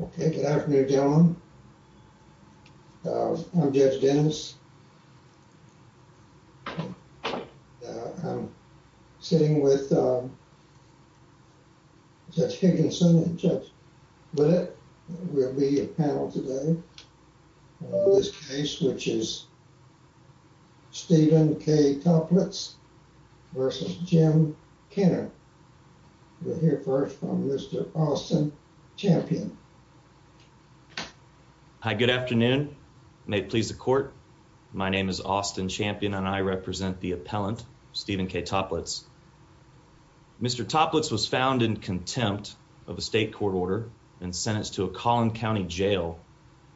Okay, good afternoon gentlemen. I'm Judge Dennis. I'm sitting with Judge Higginson and Judge Willett. We'll be a panel today on this case which is Stephen K. Topletz versus Jim Skinner. We'll hear first from Mr. Austin Champion. Hi, good afternoon. May it please the court. My name is Austin Champion and I represent the appellant Stephen K. Topletz. Mr. Topletz was found in contempt of a state court order and sentenced to a Collin County jail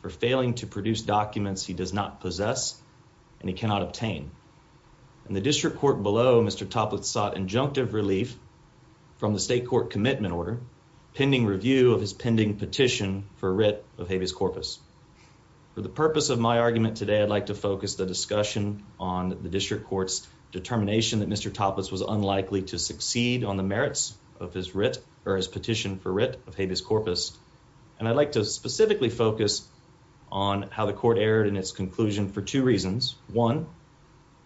for failing to produce documents he does not possess and he cannot obtain. In the district court below, Mr. Topletz sought injunctive relief from the state court commitment order pending review of his pending petition for writ of habeas corpus. For the purpose of my argument today, I'd like to focus the discussion on the district court's determination that Mr. Topletz was unlikely to succeed on the merits of his writ or his petition for writ of habeas corpus and I'd like to specifically focus on how the court erred in its conclusion for two reasons. One,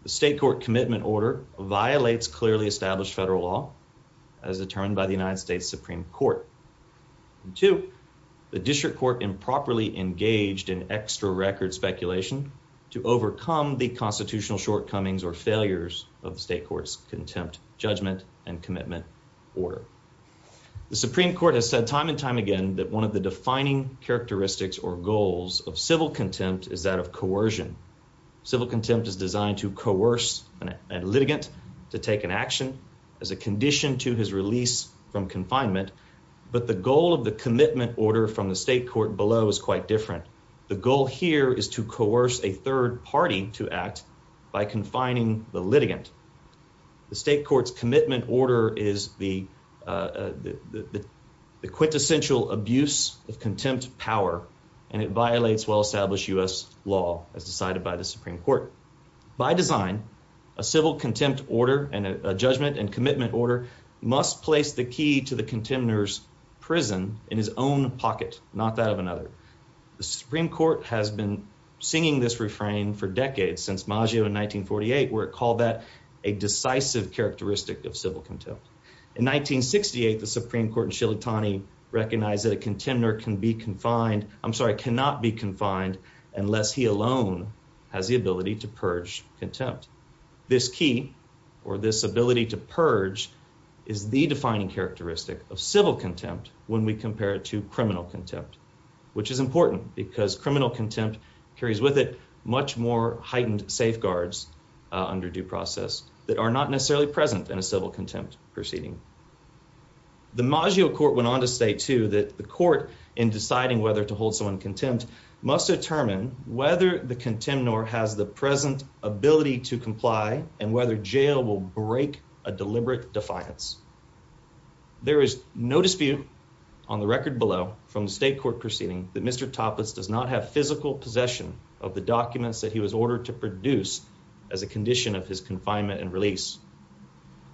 the state court commitment order violates clearly established federal law as determined by the United States Supreme Court. Two, the district court improperly engaged in extra record speculation to overcome the constitutional shortcomings or failures of the state court's contempt judgment and commitment order. The Supreme Court has said time and time again that one of the defining characteristics or goals of civil contempt is that of coercion. Civil contempt is designed to coerce a litigant to take an action as a condition to his release from confinement, but the goal of the commitment order from the state court below is quite different. The goal here is to coerce a third party to act by confining the litigant. The state court's commitment order is the quintessential abuse of contempt power and it violates well established US law as decided by the Supreme Court. By design, a civil contempt order and a judgment and commitment order must place the key to the contenders prison in his own pocket, not that of another. The Supreme Court has been singing this refrain for decades since Maggio in 1948, where it called that a decisive characteristic of civil contempt. In 1968, the Supreme Court in Shillitani recognized that a contender can be confined. I'm sorry, cannot be confined unless he alone has the ability to purge is the defining characteristic of civil contempt when we compare it to criminal contempt, which is important because criminal contempt carries with it much more heightened safeguards under due process that are not necessarily present in a civil contempt proceeding. The Maggio court went on to state too that the court in deciding whether to hold someone contempt must determine whether the contempt nor has the present ability to comply and whether jail will break a deliberate defiance. There is no dispute on the record below from the state court proceeding that Mr Toplitz does not have physical possession of the documents that he was ordered to produce as a condition of his confinement and release.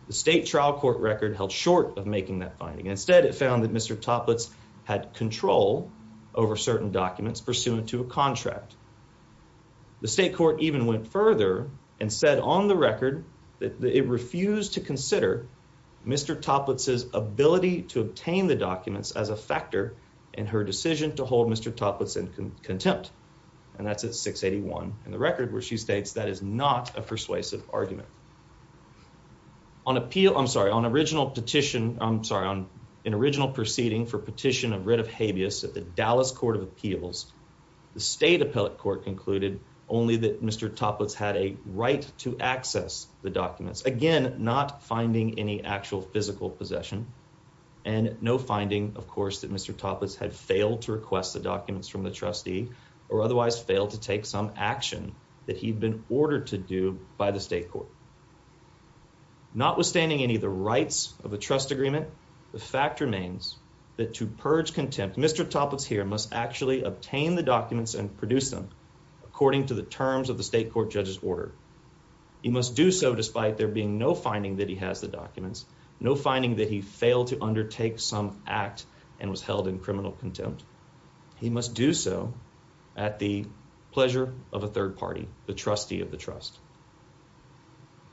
The state trial court record held short of making that finding. Instead, it found that Mr Toplitz had control over certain documents pursuant to a contract. The state court even went further and said on the refused to consider Mr Toplitz is ability to obtain the documents as a factor in her decision to hold Mr Toplitz and contempt. And that's at 681 in the record where she states that is not a persuasive argument on appeal. I'm sorry on original petition. I'm sorry on an original proceeding for petition of writ of habeas at the Dallas Court of Appeals. The state appellate court concluded only that Mr Toplitz had a right to access the documents again, not finding any actual physical possession and no finding of course that Mr Toplitz had failed to request the documents from the trustee or otherwise failed to take some action that he'd been ordered to do by the state court. Notwithstanding any of the rights of the trust agreement, the fact remains that to purge contempt, Mr Toplitz here must actually obtain the documents and produce them according to the terms of the state court judge's order. He must do so despite there being no finding that he has the documents, no finding that he failed to undertake some act and was held in criminal contempt. He must do so at the pleasure of a third party, the trustee of the trust.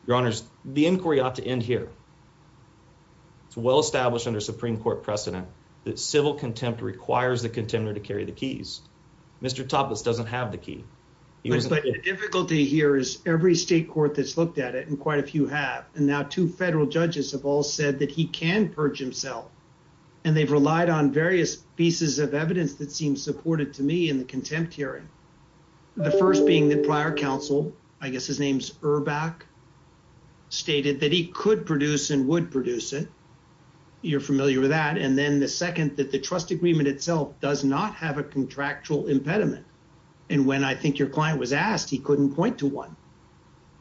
Your honors, the inquiry ought to end here. It's well established under Supreme Court precedent that civil contempt requires the contender to carry the keys. Mr. Toplitz doesn't have the key. The difficulty here is every state court that's looked at it and quite a few have and now two federal judges have all said that he can purge himself and they've relied on various pieces of evidence that seems supported to me in the contempt hearing. The first being the prior counsel, I guess his name's Urbach, stated that he could produce and would produce it. You're familiar with that and then the second that the trust agreement itself does not have a contractual impediment and when I think your client was asked, he couldn't point to one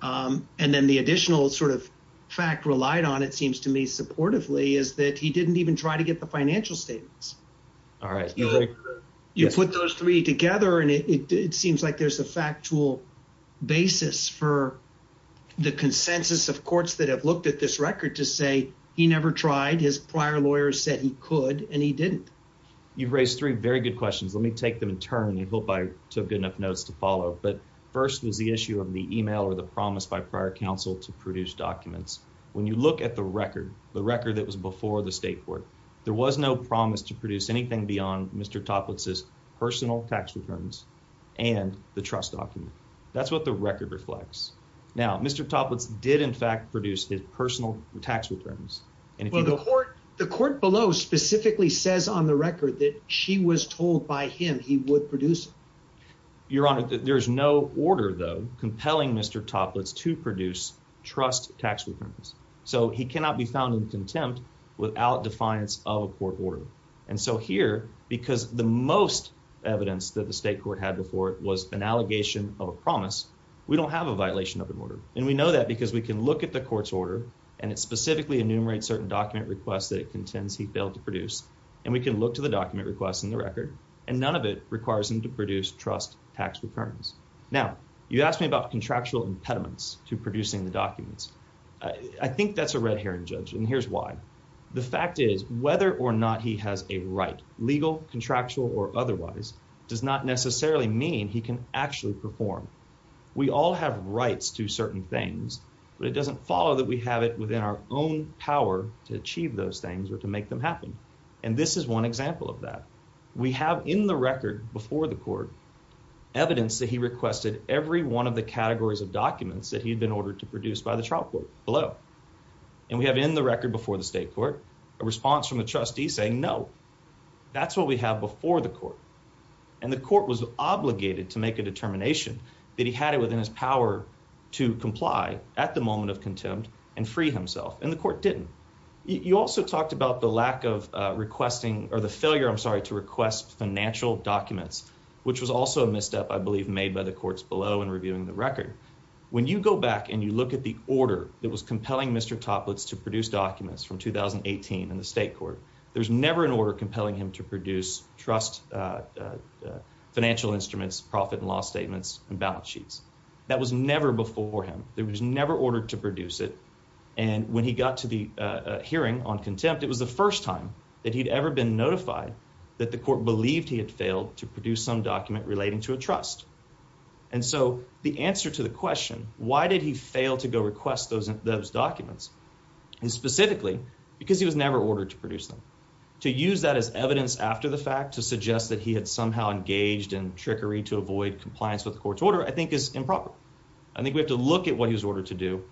and then the additional sort of fact relied on, it seems to me supportively, is that he didn't even try to get the financial statements. You put those three together and it seems like there's a factual basis for the consensus of courts that have looked at this record to say he never tried, his prior lawyer said he could and he didn't. You've raised three very good questions. Let me take them in turn and I hope I took good enough notes to follow, but first was the issue of the email or the promise by prior counsel to produce documents. When you look at the record, the record that was before the state court, there was no promise to produce anything beyond Mr. Toplitz's personal tax returns and the trust document. That's what the record reflects. Now, Mr. Toplitz did in fact produce his The court below specifically says on the record that she was told by him he would produce it. Your honor, there is no order though compelling Mr. Toplitz to produce trust tax returns, so he cannot be found in contempt without defiance of a court order and so here, because the most evidence that the state court had before it was an allegation of a promise, we don't have a violation of an order and we know that because we can look at the court's order and it specifically enumerates certain document requests that it contends he failed to produce and we can look to the document requests in the record and none of it requires him to produce trust tax returns. Now you asked me about contractual impediments to producing the documents. I think that's a red herring judge and here's why the fact is whether or not he has a right legal contractual or otherwise does not necessarily mean he can actually perform. We all have rights to certain things, but it doesn't follow that we have it within our own power to achieve those things or to make them happen and this is one example of that. We have in the record before the court evidence that he requested every one of the categories of documents that he'd been ordered to produce by the trial court below and we have in the record before the state court, a response from the trustee saying no, that's what we have before the court and the court was obligated to make a determination that he had it power to comply at the moment of contempt and free himself and the court didn't. You also talked about the lack of requesting or the failure. I'm sorry to request financial documents, which was also a misstep. I believe made by the courts below and reviewing the record when you go back and you look at the order that was compelling Mr. Toplets to produce documents from 2018 in the state court. There's never an order compelling him to produce trust financial instruments, profit and loss statements and balance sheets. That was never before him. There was never ordered to produce it and when he got to the hearing on contempt, it was the first time that he'd ever been notified that the court believed he had failed to produce some document relating to a trust and so the answer to the question, why did he fail to go request those those documents and specifically because he was never ordered to produce them to use that as evidence after the fact to suggest that he had somehow engaged in trickery to avoid compliance with the court's order, I think is improper. I think we have to look at what he's ordered to do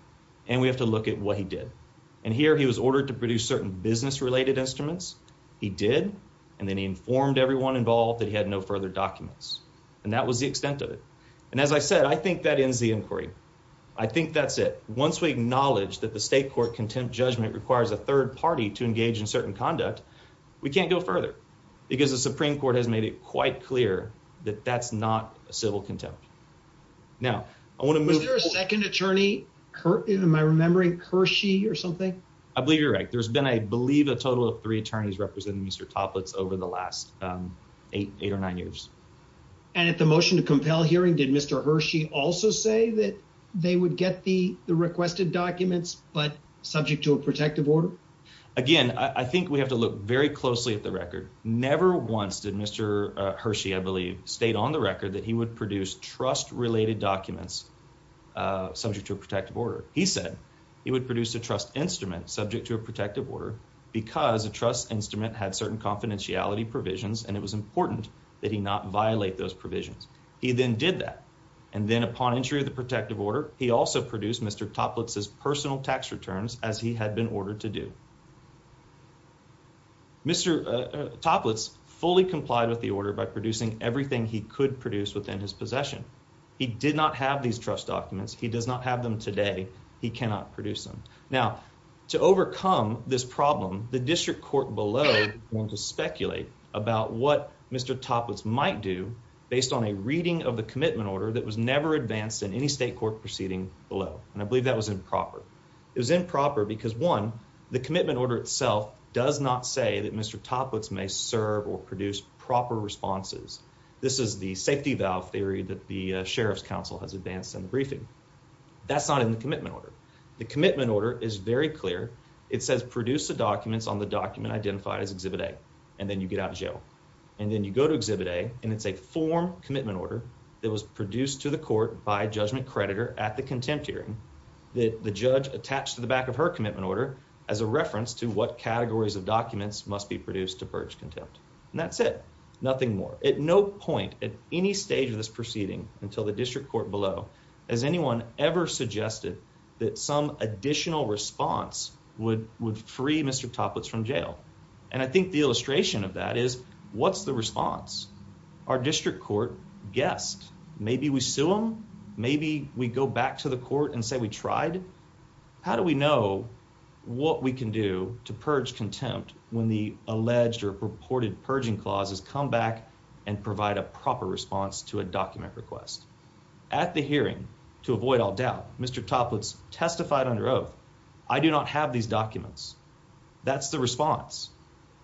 and we have to look at what he did and here he was ordered to produce certain business related instruments. He did and then he informed everyone involved that he had no further documents and that was the extent of it and as I said, I think that ends the inquiry. I think that's it. Once we acknowledge that the state court contempt judgment requires a third party to engage in certain conduct, we can't go further because the Supreme Court has made it quite clear that that's not a civil contempt. Now, I want to move to a second attorney. Am I remembering Hershey or something? I believe you're right. There's been, I believe a total of three attorneys representing Mr. Toplitz over the last 8 or 9 years and at the motion to compel hearing, did Mr. Hershey also say that they would get the requested documents but subject to a protective order again. I think we have to look very closely at the record never once did Mr. Hershey I believe stayed on the record that he would produce trust related documents subject to a protective order. He said he would produce a trust instrument subject to a protective order because a trust instrument had certain confidentiality provisions and it was important that he not violate those provisions. He then did that and then upon entry of the protective order, he also produced Mr. Toplitz's personal tax returns as he had been ordered to do. Mr. Toplitz fully complied with the order by producing everything he could produce within his possession. He did not have these trust documents. He does not have them today. He cannot produce them. Now, to overcome this problem, the district court below want to speculate about what Mr. Toplitz might do based on a reading of the commitment order that was never advanced in any state court proceeding below and I believe that was improper. It was improper because one, the commitment order itself does not say that Mr. Toplitz may serve or produce proper responses. This is the safety valve theory that the sheriff's council has advanced in the briefing. That's not in the commitment order. The commitment order is very clear. It says produce the documents on the document identified as exhibit A and then you get out of jail and then you go to exhibit A and it's a form commitment order that was produced to the court by a judgment creditor at the contempt hearing that the judge attached to the back of her reference to what categories of documents must be produced to purge contempt and that's it. Nothing more. At no point at any stage of this proceeding until the district court below as anyone ever suggested that some additional response would would free Mr. Toplitz from jail and I think the illustration of that is what's the response our district court guessed. Maybe we sue him. Maybe we go back to the court and say we tried. How do we know what we can do to purge contempt when the alleged or purported purging clauses come back and provide a proper response to a document request at the hearing to avoid all doubt. Mr. Toplitz testified under oath. I do not have these documents. That's the response.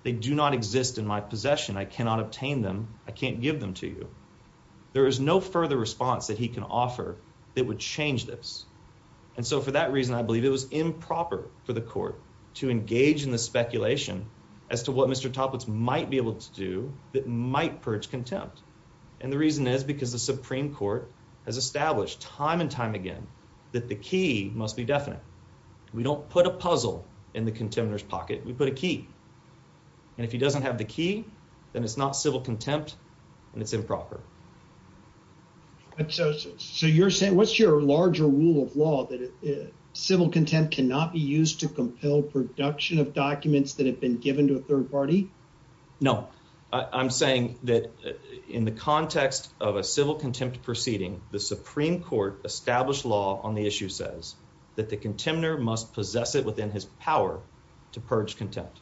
They do not exist in my possession. I cannot obtain them. I can't give them to you. There is no further response that he can offer that would change this and so for that reason, I believe it was improper for the court to engage in the speculation as to what Mr. Toplitz might be able to do that might purge contempt and the reason is because the Supreme Court has established time and time again that the key must be definite. We don't put a puzzle in the contender's pocket. We put a key and if he doesn't have the key, then it's not civil contempt and it's law that civil contempt cannot be used to compel production of documents that have been given to a third party. No, I'm saying that in the context of a civil contempt proceeding, the Supreme Court established law on the issue says that the contender must possess it within his power to purge contempt.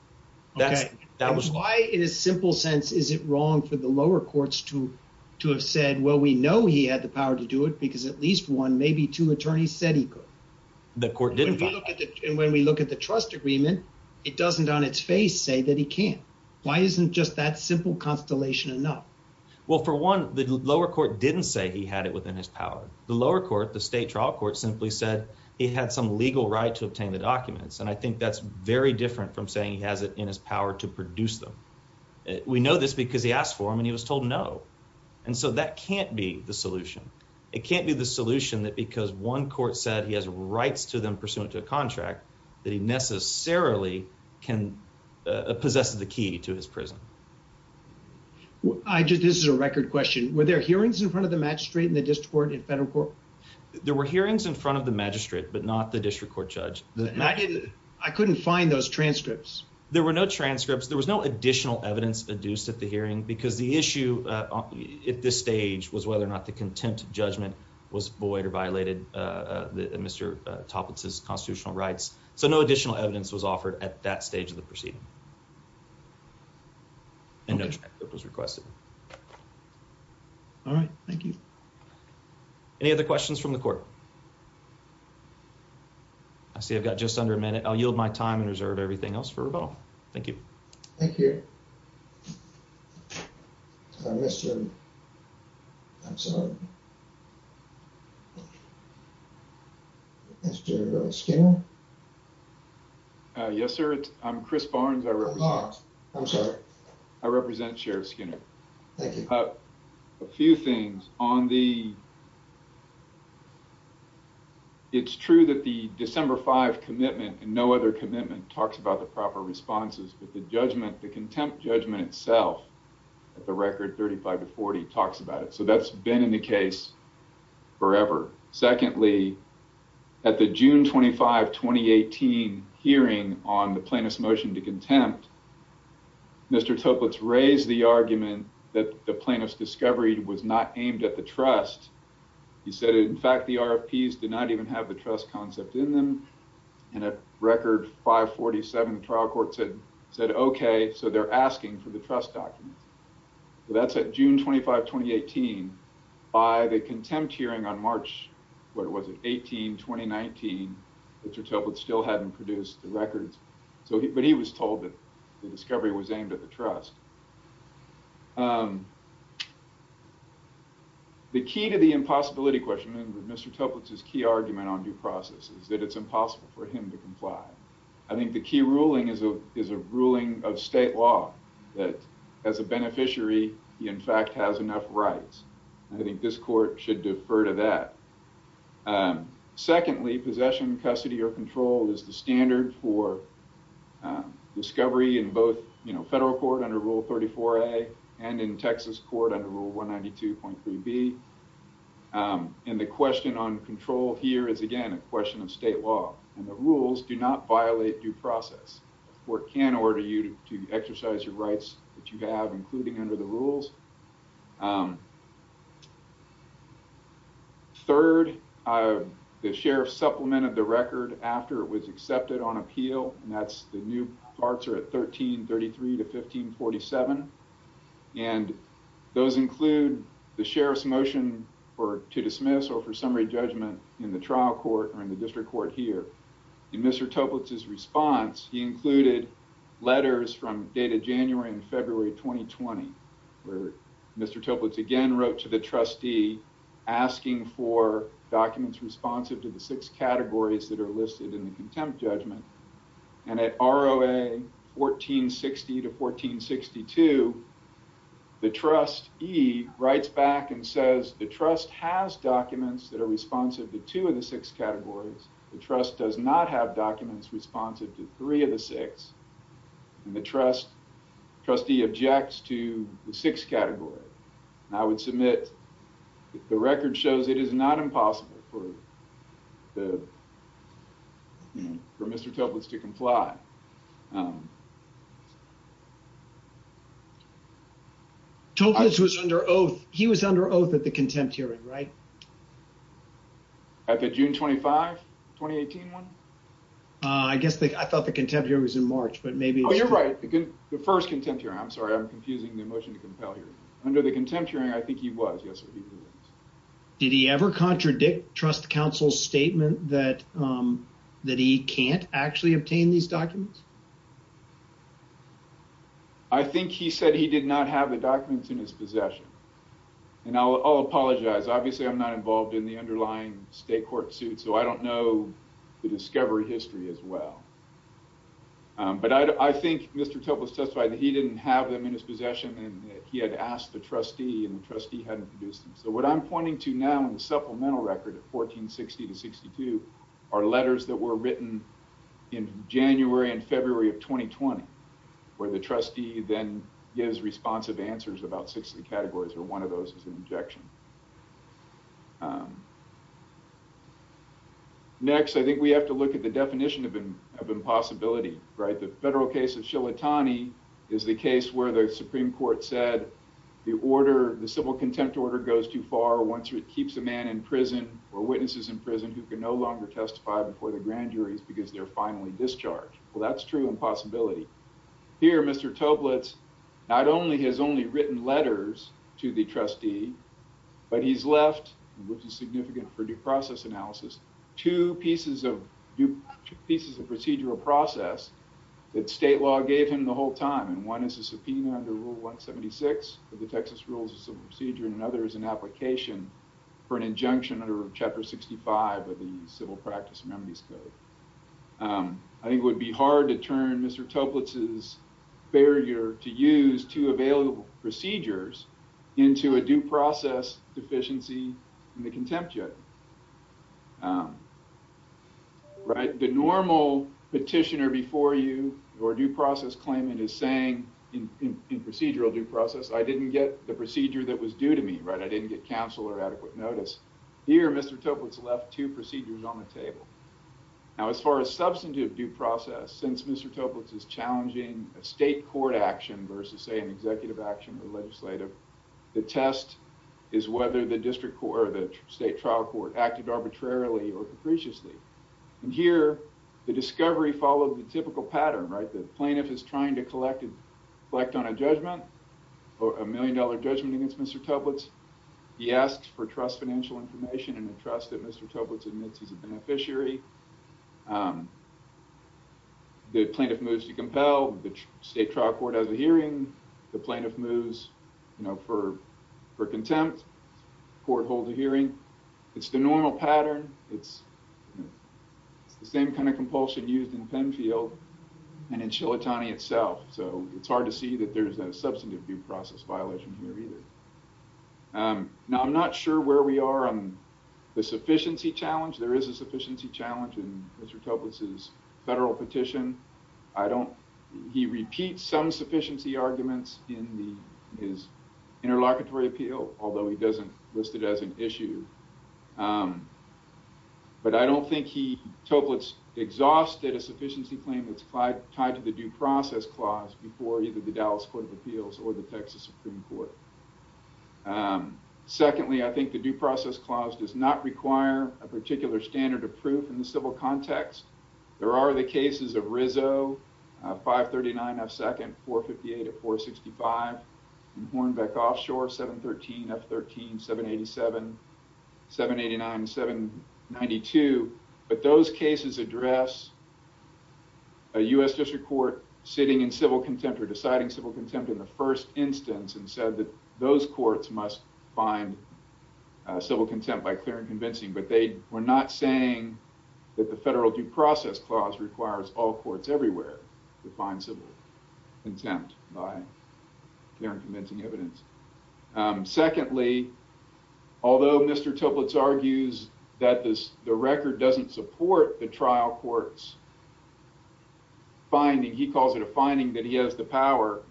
That's that was why in a simple sense, is it wrong for the lower courts to to have said, well, we know he had the power to do it because at least one, maybe two attorneys said he could. The court didn't and when we look at the trust agreement, it doesn't on its face say that he can't. Why isn't just that simple constellation enough? Well, for one, the lower court didn't say he had it within his power. The lower court, the state trial court simply said he had some legal right to obtain the documents and I think that's very different from saying he has it in his power to produce them. We know this because he asked for him and he was told no and so that can't be the solution. It can't be the solution that because one court said he has rights to them pursuant to a contract that he necessarily can possess the key to his prison. I just this is a record question. Were there hearings in front of the magistrate in the district court in federal court? There were hearings in front of the magistrate but not the district court judge. I couldn't find those transcripts. There were no transcripts. There was no at this stage was whether or not the contempt judgment was void or violated. Uh, Mr Toplitz is constitutional rights, so no additional evidence was offered at that stage of the proceeding. And it was requested. All right. Thank you. Any other questions from the court? I see I've got just under a minute. I'll yield my time and reserve everything else for rebuttal. Thank you. Thank you. Uh, Mr. I'm sorry. Mr Skinner. Yes, sir. I'm Chris Barnes. I represent. I'm sorry. I represent Sheriff Skinner. Thank you. A few things on the it's true that the December five commitment and no other commitment talks about the proper responses, but the contempt judgment itself at the record 35 to 40 talks about it. So that's been in the case. Forever. Secondly, at the June 25 2018 hearing on the plaintiff's motion to contempt, Mr Toplitz raised the argument that the plaintiff's discovery was not aimed at the trust. He said, in fact, the RFPs did not even have the trust concept in them. And a record 5 47 trial court said said, OK, so they're asking for the trust documents. So that's at June 25 2018 by the contempt hearing on March. What was it? 18 2019. Mr Toplitz still hadn't produced the records, but he was told that the discovery was aimed at the trust. The key to the impossibility question and Mr Toplitz's key process is that it's impossible for him to comply. I think the key ruling is a ruling of state law that as a beneficiary, he in fact has enough rights. I think this court should defer to that. Secondly, possession, custody or control is the standard for discovery in both federal court under Rule 34 A and in Texas court under Rule 192.3 B. And the question on control here is again a question of state law and the rules do not violate due process or can order you to exercise your rights that you have, including under the rules. Third, the sheriff supplemented the record after it was accepted on appeal, and that's the new parts are at 13 33 to 15 47. And those include the sheriff's motion for to dismiss or for summary judgment in the trial court or in the district court here. In Mr Toplitz's response, he included letters from data January and February 2020, where Mr Toplitz again wrote to the trustee asking for documents responsive to the six categories that are listed in the contempt judgment. And at ROA 1460 to 1462, the trustee writes back and says the trust has documents that are responsive to two of the six categories. The trust does not have documents responsive to three of the six and the trust trustee objects to the six category. I would submit the record shows it is not possible for the for Mr Toplitz to comply. Toplitz was under oath. He was under oath at the contempt hearing, right? At the June 25 2018 one? Uh, I guess I thought the contempt here was in March, but maybe you're right. The first contempt here. I'm sorry. I'm confusing the motion to compel here under the contempt hearing. I think he was yesterday. Did he ever contradict trust council statement that that he can't actually obtain these documents? I think he said he did not have the documents in his possession. And I'll apologize. Obviously, I'm not involved in the underlying state court suit, so I don't know the discovery history as well. But I think Mr Toplitz testified that he didn't have them in his possession and he had asked the trustee and the trustee hadn't produced them. So what I'm pointing to now in the supplemental record of 1460 to 62 are letters that were written in January and February of 2020, where the trustee then gives responsive answers about 60 categories, or one of those is an objection. Next, I think we have to look at the definition of impossibility, right? The federal case of Shillitani is the case where the goes too far once it keeps a man in prison or witnesses in prison who can no longer testify before the grand juries because they're finally discharged. Well, that's true impossibility here. Mr Toplitz not only has only written letters to the trustee, but he's left, which is significant for due process analysis, two pieces of pieces of procedural process that state law gave him the whole time. And one is a application for an injunction under Chapter 65 of the Civil Practice Memories Code. I think it would be hard to turn Mr Toplitz's barrier to use two available procedures into a due process deficiency in the contempt judge. Right? The normal petitioner before you or due process claimant is saying in procedural due process, I didn't get the counsel or adequate notice. Here, Mr Toplitz left two procedures on the table. Now, as far as substantive due process, since Mr Toplitz is challenging a state court action versus, say, an executive action or legislative, the test is whether the district court or the state trial court acted arbitrarily or capriciously. And here, the discovery followed the typical pattern, right? The plaintiff is trying to collect on a or a million-dollar judgment against Mr Toplitz. He asks for trust financial information and the trust that Mr Toplitz admits he's a beneficiary. The plaintiff moves to compel. The state trial court has a hearing. The plaintiff moves, you know, for contempt. Court holds a hearing. It's the normal pattern. It's the same kind of compulsion used in Penfield and in substantive due process violation here either. Now, I'm not sure where we are on the sufficiency challenge. There is a sufficiency challenge in Mr Toplitz's federal petition. I don't, he repeats some sufficiency arguments in the, his interlocutory appeal, although he doesn't list it as an issue. But I don't think he, Toplitz exhausted a sufficiency claim that's tied to the due process clause before either the appeals or the Texas Supreme Court. Secondly, I think the due process clause does not require a particular standard of proof in the civil context. There are the cases of Rizzo, 539 F2nd, 458 of 465, Hornbeck Offshore, 713 F13, 787, 789, 792. But those cases address a U.S. district court sitting in civil contempt in the first instance and said that those courts must find civil contempt by clear and convincing. But they were not saying that the federal due process clause requires all courts everywhere to find civil contempt by clear and convincing evidence. Secondly, although Mr. Toplitz argues that the record doesn't support the trial court's finding, he calls it a finding that he has the power.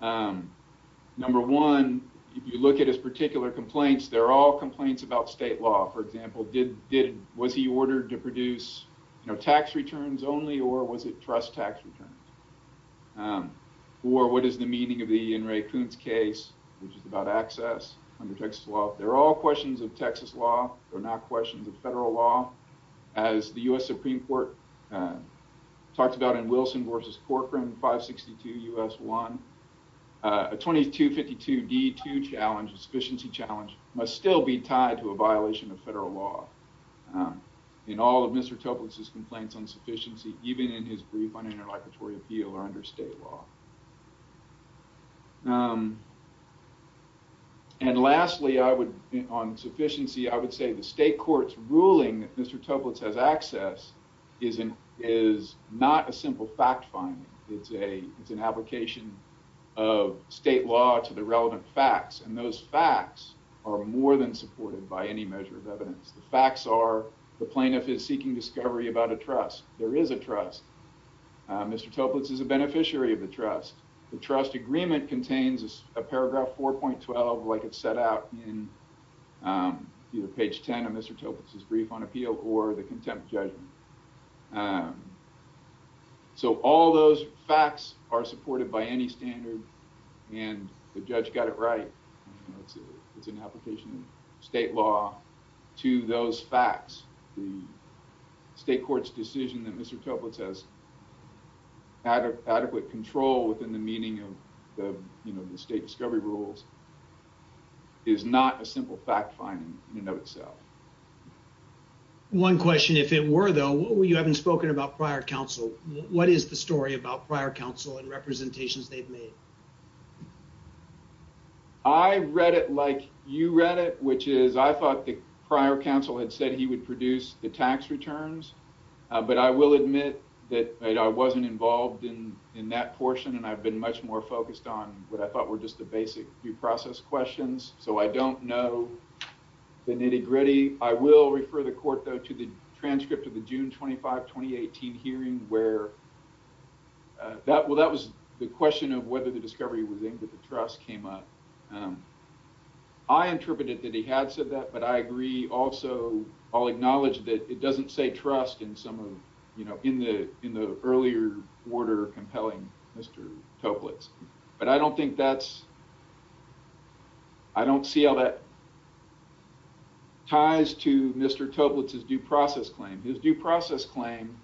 Number one, if you look at his particular complaints, they're all complaints about state law. For example, did, was he ordered to produce, you know, tax returns only or was it trust tax returns? Or what is the meaning of the Ian Ray Coons case, which is about access under Texas law? They're all questions of Texas law. They're not questions of the U.S. Supreme Court. Talked about in Wilson versus Corcoran, 562 U.S. 1. A 2252 D2 challenge, a sufficiency challenge, must still be tied to a violation of federal law. In all of Mr. Toplitz's complaints on sufficiency, even in his brief on interlocutory appeal or under state law. And lastly, I would, on sufficiency, I would say the state court's ruling that Mr. Toplitz has access isn't, is not a simple fact finding. It's a, it's an application of state law to the relevant facts and those facts are more than supported by any measure of evidence. The facts are the plaintiff is seeking discovery about a trust. There is a trust. Mr. Toplitz is a beneficiary of the trust. The trust agreement contains a paragraph 4.12 like it's set out in either page 10 of Mr. Toplitz's brief on appeal or the contempt judgment. So all those facts are supported by any standard and the judge got it right. It's an application of state law to those facts. The state court's decision that Mr. Toplitz has adequate control within the meaning of you know, the state discovery rules is not a simple fact finding in and of itself. One question, if it were though, you haven't spoken about prior counsel. What is the story about prior counsel and representations they've made? I read it like you read it, which is I thought the prior counsel had said he would produce the tax returns, but I will admit that I wasn't involved in that portion and I've been much more focused on what I thought were just the basic due process questions. So I don't know the nitty-gritty. I will refer the court though to the transcript of the June 25, 2018 hearing where that was the question of whether the discovery was aimed at the trust came up. I interpreted that he had said that, but I agree also, I'll acknowledge that it doesn't say trust in some of you know, in the earlier order compelling Mr. Toplitz, but I don't think that's, I don't see how that ties to Mr. Toplitz's due process claim. His due process claim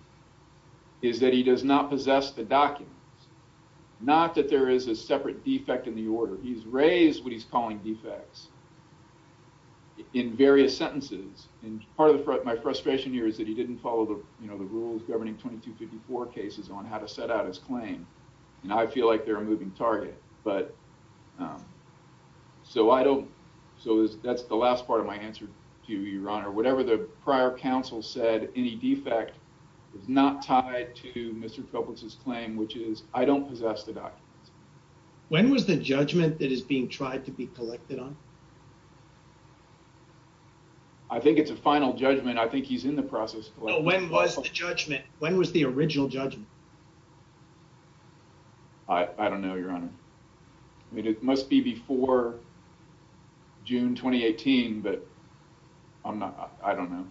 is that he does not possess the documents. Not that there is a separate defect in the order. He's raised what he's calling defects in various sentences and part of the frustration here is that he didn't follow the, you know, the rules governing 2254 cases on how to set out his claim and I feel like they're a moving target, but so I don't, so that's the last part of my answer to you, your honor. Whatever the prior counsel said, any defect is not tied to Mr. Toplitz's claim, which is I don't possess the documents. When was the judgment that is being tried to be collected on? I think it's a final judgment. I think he's in the process. When was the original judgment? I don't know, your honor. I mean, it must be before June 2018, but I'm not, I don't know.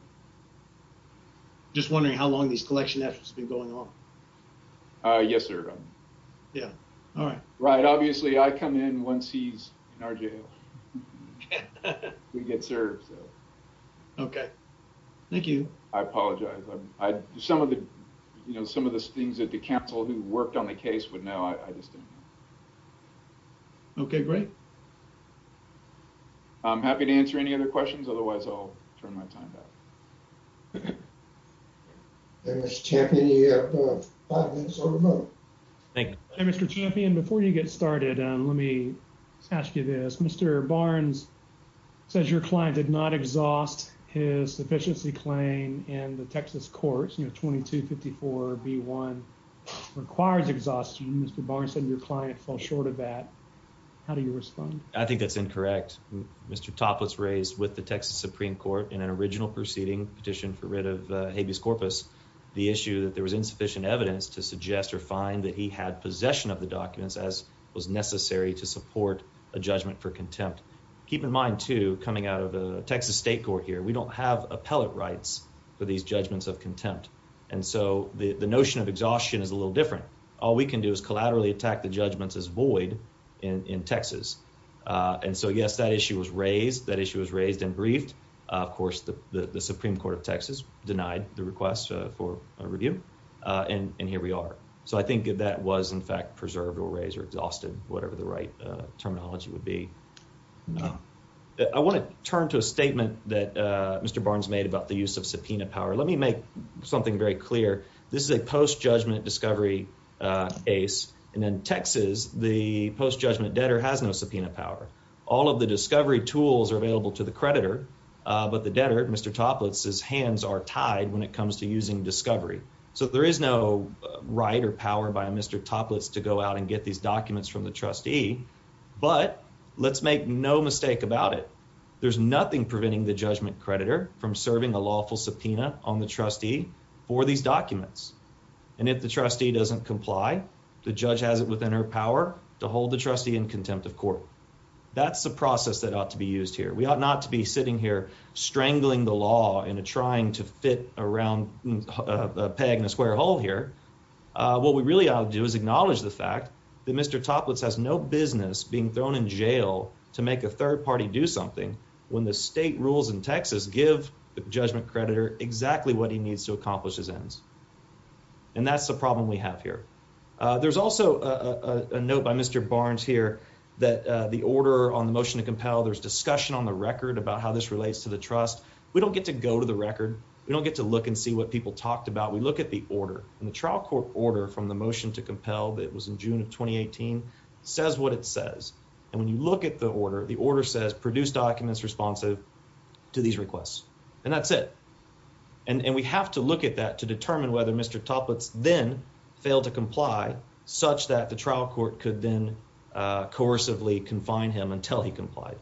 Just wondering how long these collection efforts have been going on? Yes, sir. Yeah, all right. Right, obviously I come in once he's in our jail. We get served, so. Okay, thank you. I apologize. I, some of the, you know, some of the things that the counsel who worked on the case would know, I just didn't know. Okay, great. I'm happy to answer any other questions, otherwise I'll turn my time back. Hey, Mr. Champion, you have five minutes on the phone. Thank you. Hey, Mr. Champion, before you get started, let me ask you this. Mr. Barnes says your client did not exhaust his sufficiency claim in the Texas courts, you know, 2254 B1 requires exhaustion. Mr. Barnes said your client fell short of that. How do you respond? I think that's incorrect. Mr. Toplitz raised with the Texas Supreme Court in an original proceeding, petition for writ of habeas corpus, the issue that there was insufficient evidence to suggest or find that he had possession of the documents as was necessary to support a judgment for contempt. Keep in mind, too, coming out of the Texas State Court here, we don't have appellate rights for these judgments of contempt. And so the notion of exhaustion is a little different. All we can do is collaterally attack the judgments as void in Texas. And so, yes, that issue was raised, that issue was raised and briefed. Of course, the Supreme Court of Texas denied the request for a review, and here we are. So I think that was, in fact, preserved or raised or exhausted, whatever the right terminology would be. I want to turn to a statement that Mr. Barnes made about the use of subpoena power. Let me make something very clear. This is a post-judgment discovery case, and in Texas, the post-judgment debtor has no subpoena power. All of the discovery tools are available to the creditor, but the debtor, Mr. Toplitz's hands are tied when it comes to using discovery. So there is no right or power by Mr. Toplitz to go out and get these documents from the trustee, but let's make no mistake about it. There's nothing preventing the judgment creditor from serving a lawful subpoena on the trustee for these documents. And if the trustee doesn't comply, the judge has it within her power to hold the trustee in contempt of court. That's the process that ought to be used here. We ought not to be sitting here trying to fit around a peg in a square hole here. What we really ought to do is acknowledge the fact that Mr. Toplitz has no business being thrown in jail to make a third party do something when the state rules in Texas give the judgment creditor exactly what he needs to accomplish his ends. And that's the problem we have here. There's also a note by Mr. Barnes here that the order on the motion to compel, there's discussion on the record about how this relates to the trust. We don't get to go to the record. We don't get to look and see what people talked about. We look at the order. And the trial court order from the motion to compel that was in June of 2018 says what it says. And when you look at the order, the order says produce documents responsive to these requests. And that's it. And we have to look at that to determine whether Mr. Toplitz then failed to comply such that the trial court could then coercively confine him until he complied.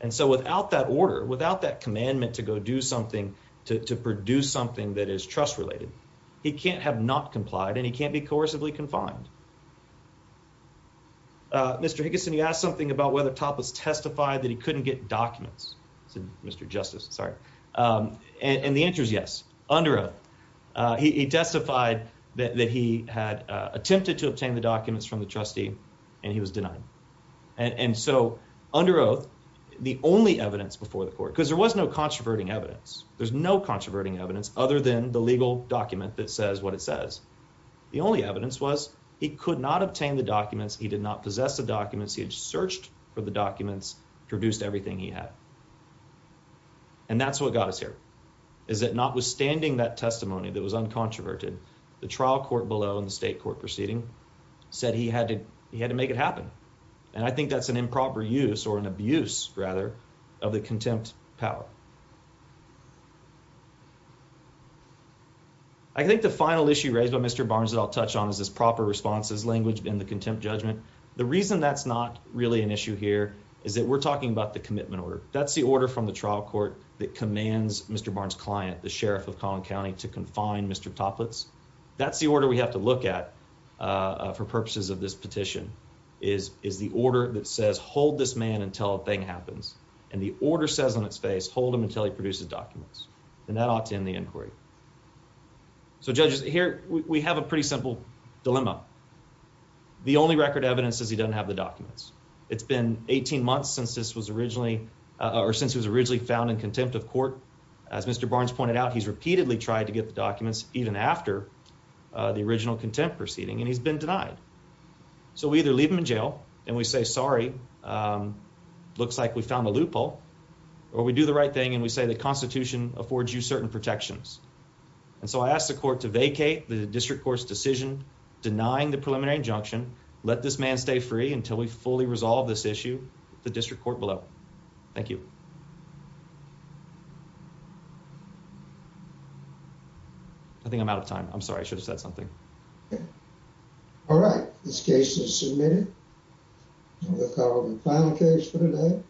And so without that order, without that commandment to go do something to produce something that is trust related, he can't have not complied and he can't be coercively confined. Uh, Mr. Higginson, you asked something about whether Toplitz testified that he couldn't get documents, Mr. Justice. Sorry. Um, and the answer is yes. Under oath, he testified that he had attempted to obtain the documents from the trustee and he was denied. And so under oath, the only evidence before because there was no controverting evidence. There's no controverting evidence other than the legal document that says what it says. The only evidence was he could not obtain the documents. He did not possess the documents he had searched for the documents produced everything he had. And that's what got us here is that notwithstanding that testimony that was uncontroverted, the trial court below in the state court proceeding said he had to. He had to make it happen. And I think that's an improper use or an contempt power. I think the final issue raised by Mr Barnes that I'll touch on is this proper responses language in the contempt judgment. The reason that's not really an issue here is that we're talking about the commitment order. That's the order from the trial court that commands Mr Barnes client, the sheriff of Collin County to confine Mr Toplitz. That's the order we have to look at for purposes of this petition is is the order that says hold this man until thing happens. And the order says on its face, hold him until he produces documents. And that ought to end the inquiry. So judges here we have a pretty simple dilemma. The only record evidence is he doesn't have the documents. It's been 18 months since this was originally or since he was originally found in contempt of court. As Mr Barnes pointed out, he's repeatedly tried to get the documents even after the original contempt proceeding, and he's been denied. So we either leave him in jail and we say, Sorry, um, looks like we found a loophole or we do the right thing. And we say the Constitution affords you certain protections. And so I asked the court to vacate the district court's decision denying the preliminary injunction. Let this man stay free until we fully resolve this issue. The district court below. Thank you. I think I'm out of time. I'm sorry. I should have said something. Yeah. All right. This case is submitted. We'll call the final case for today.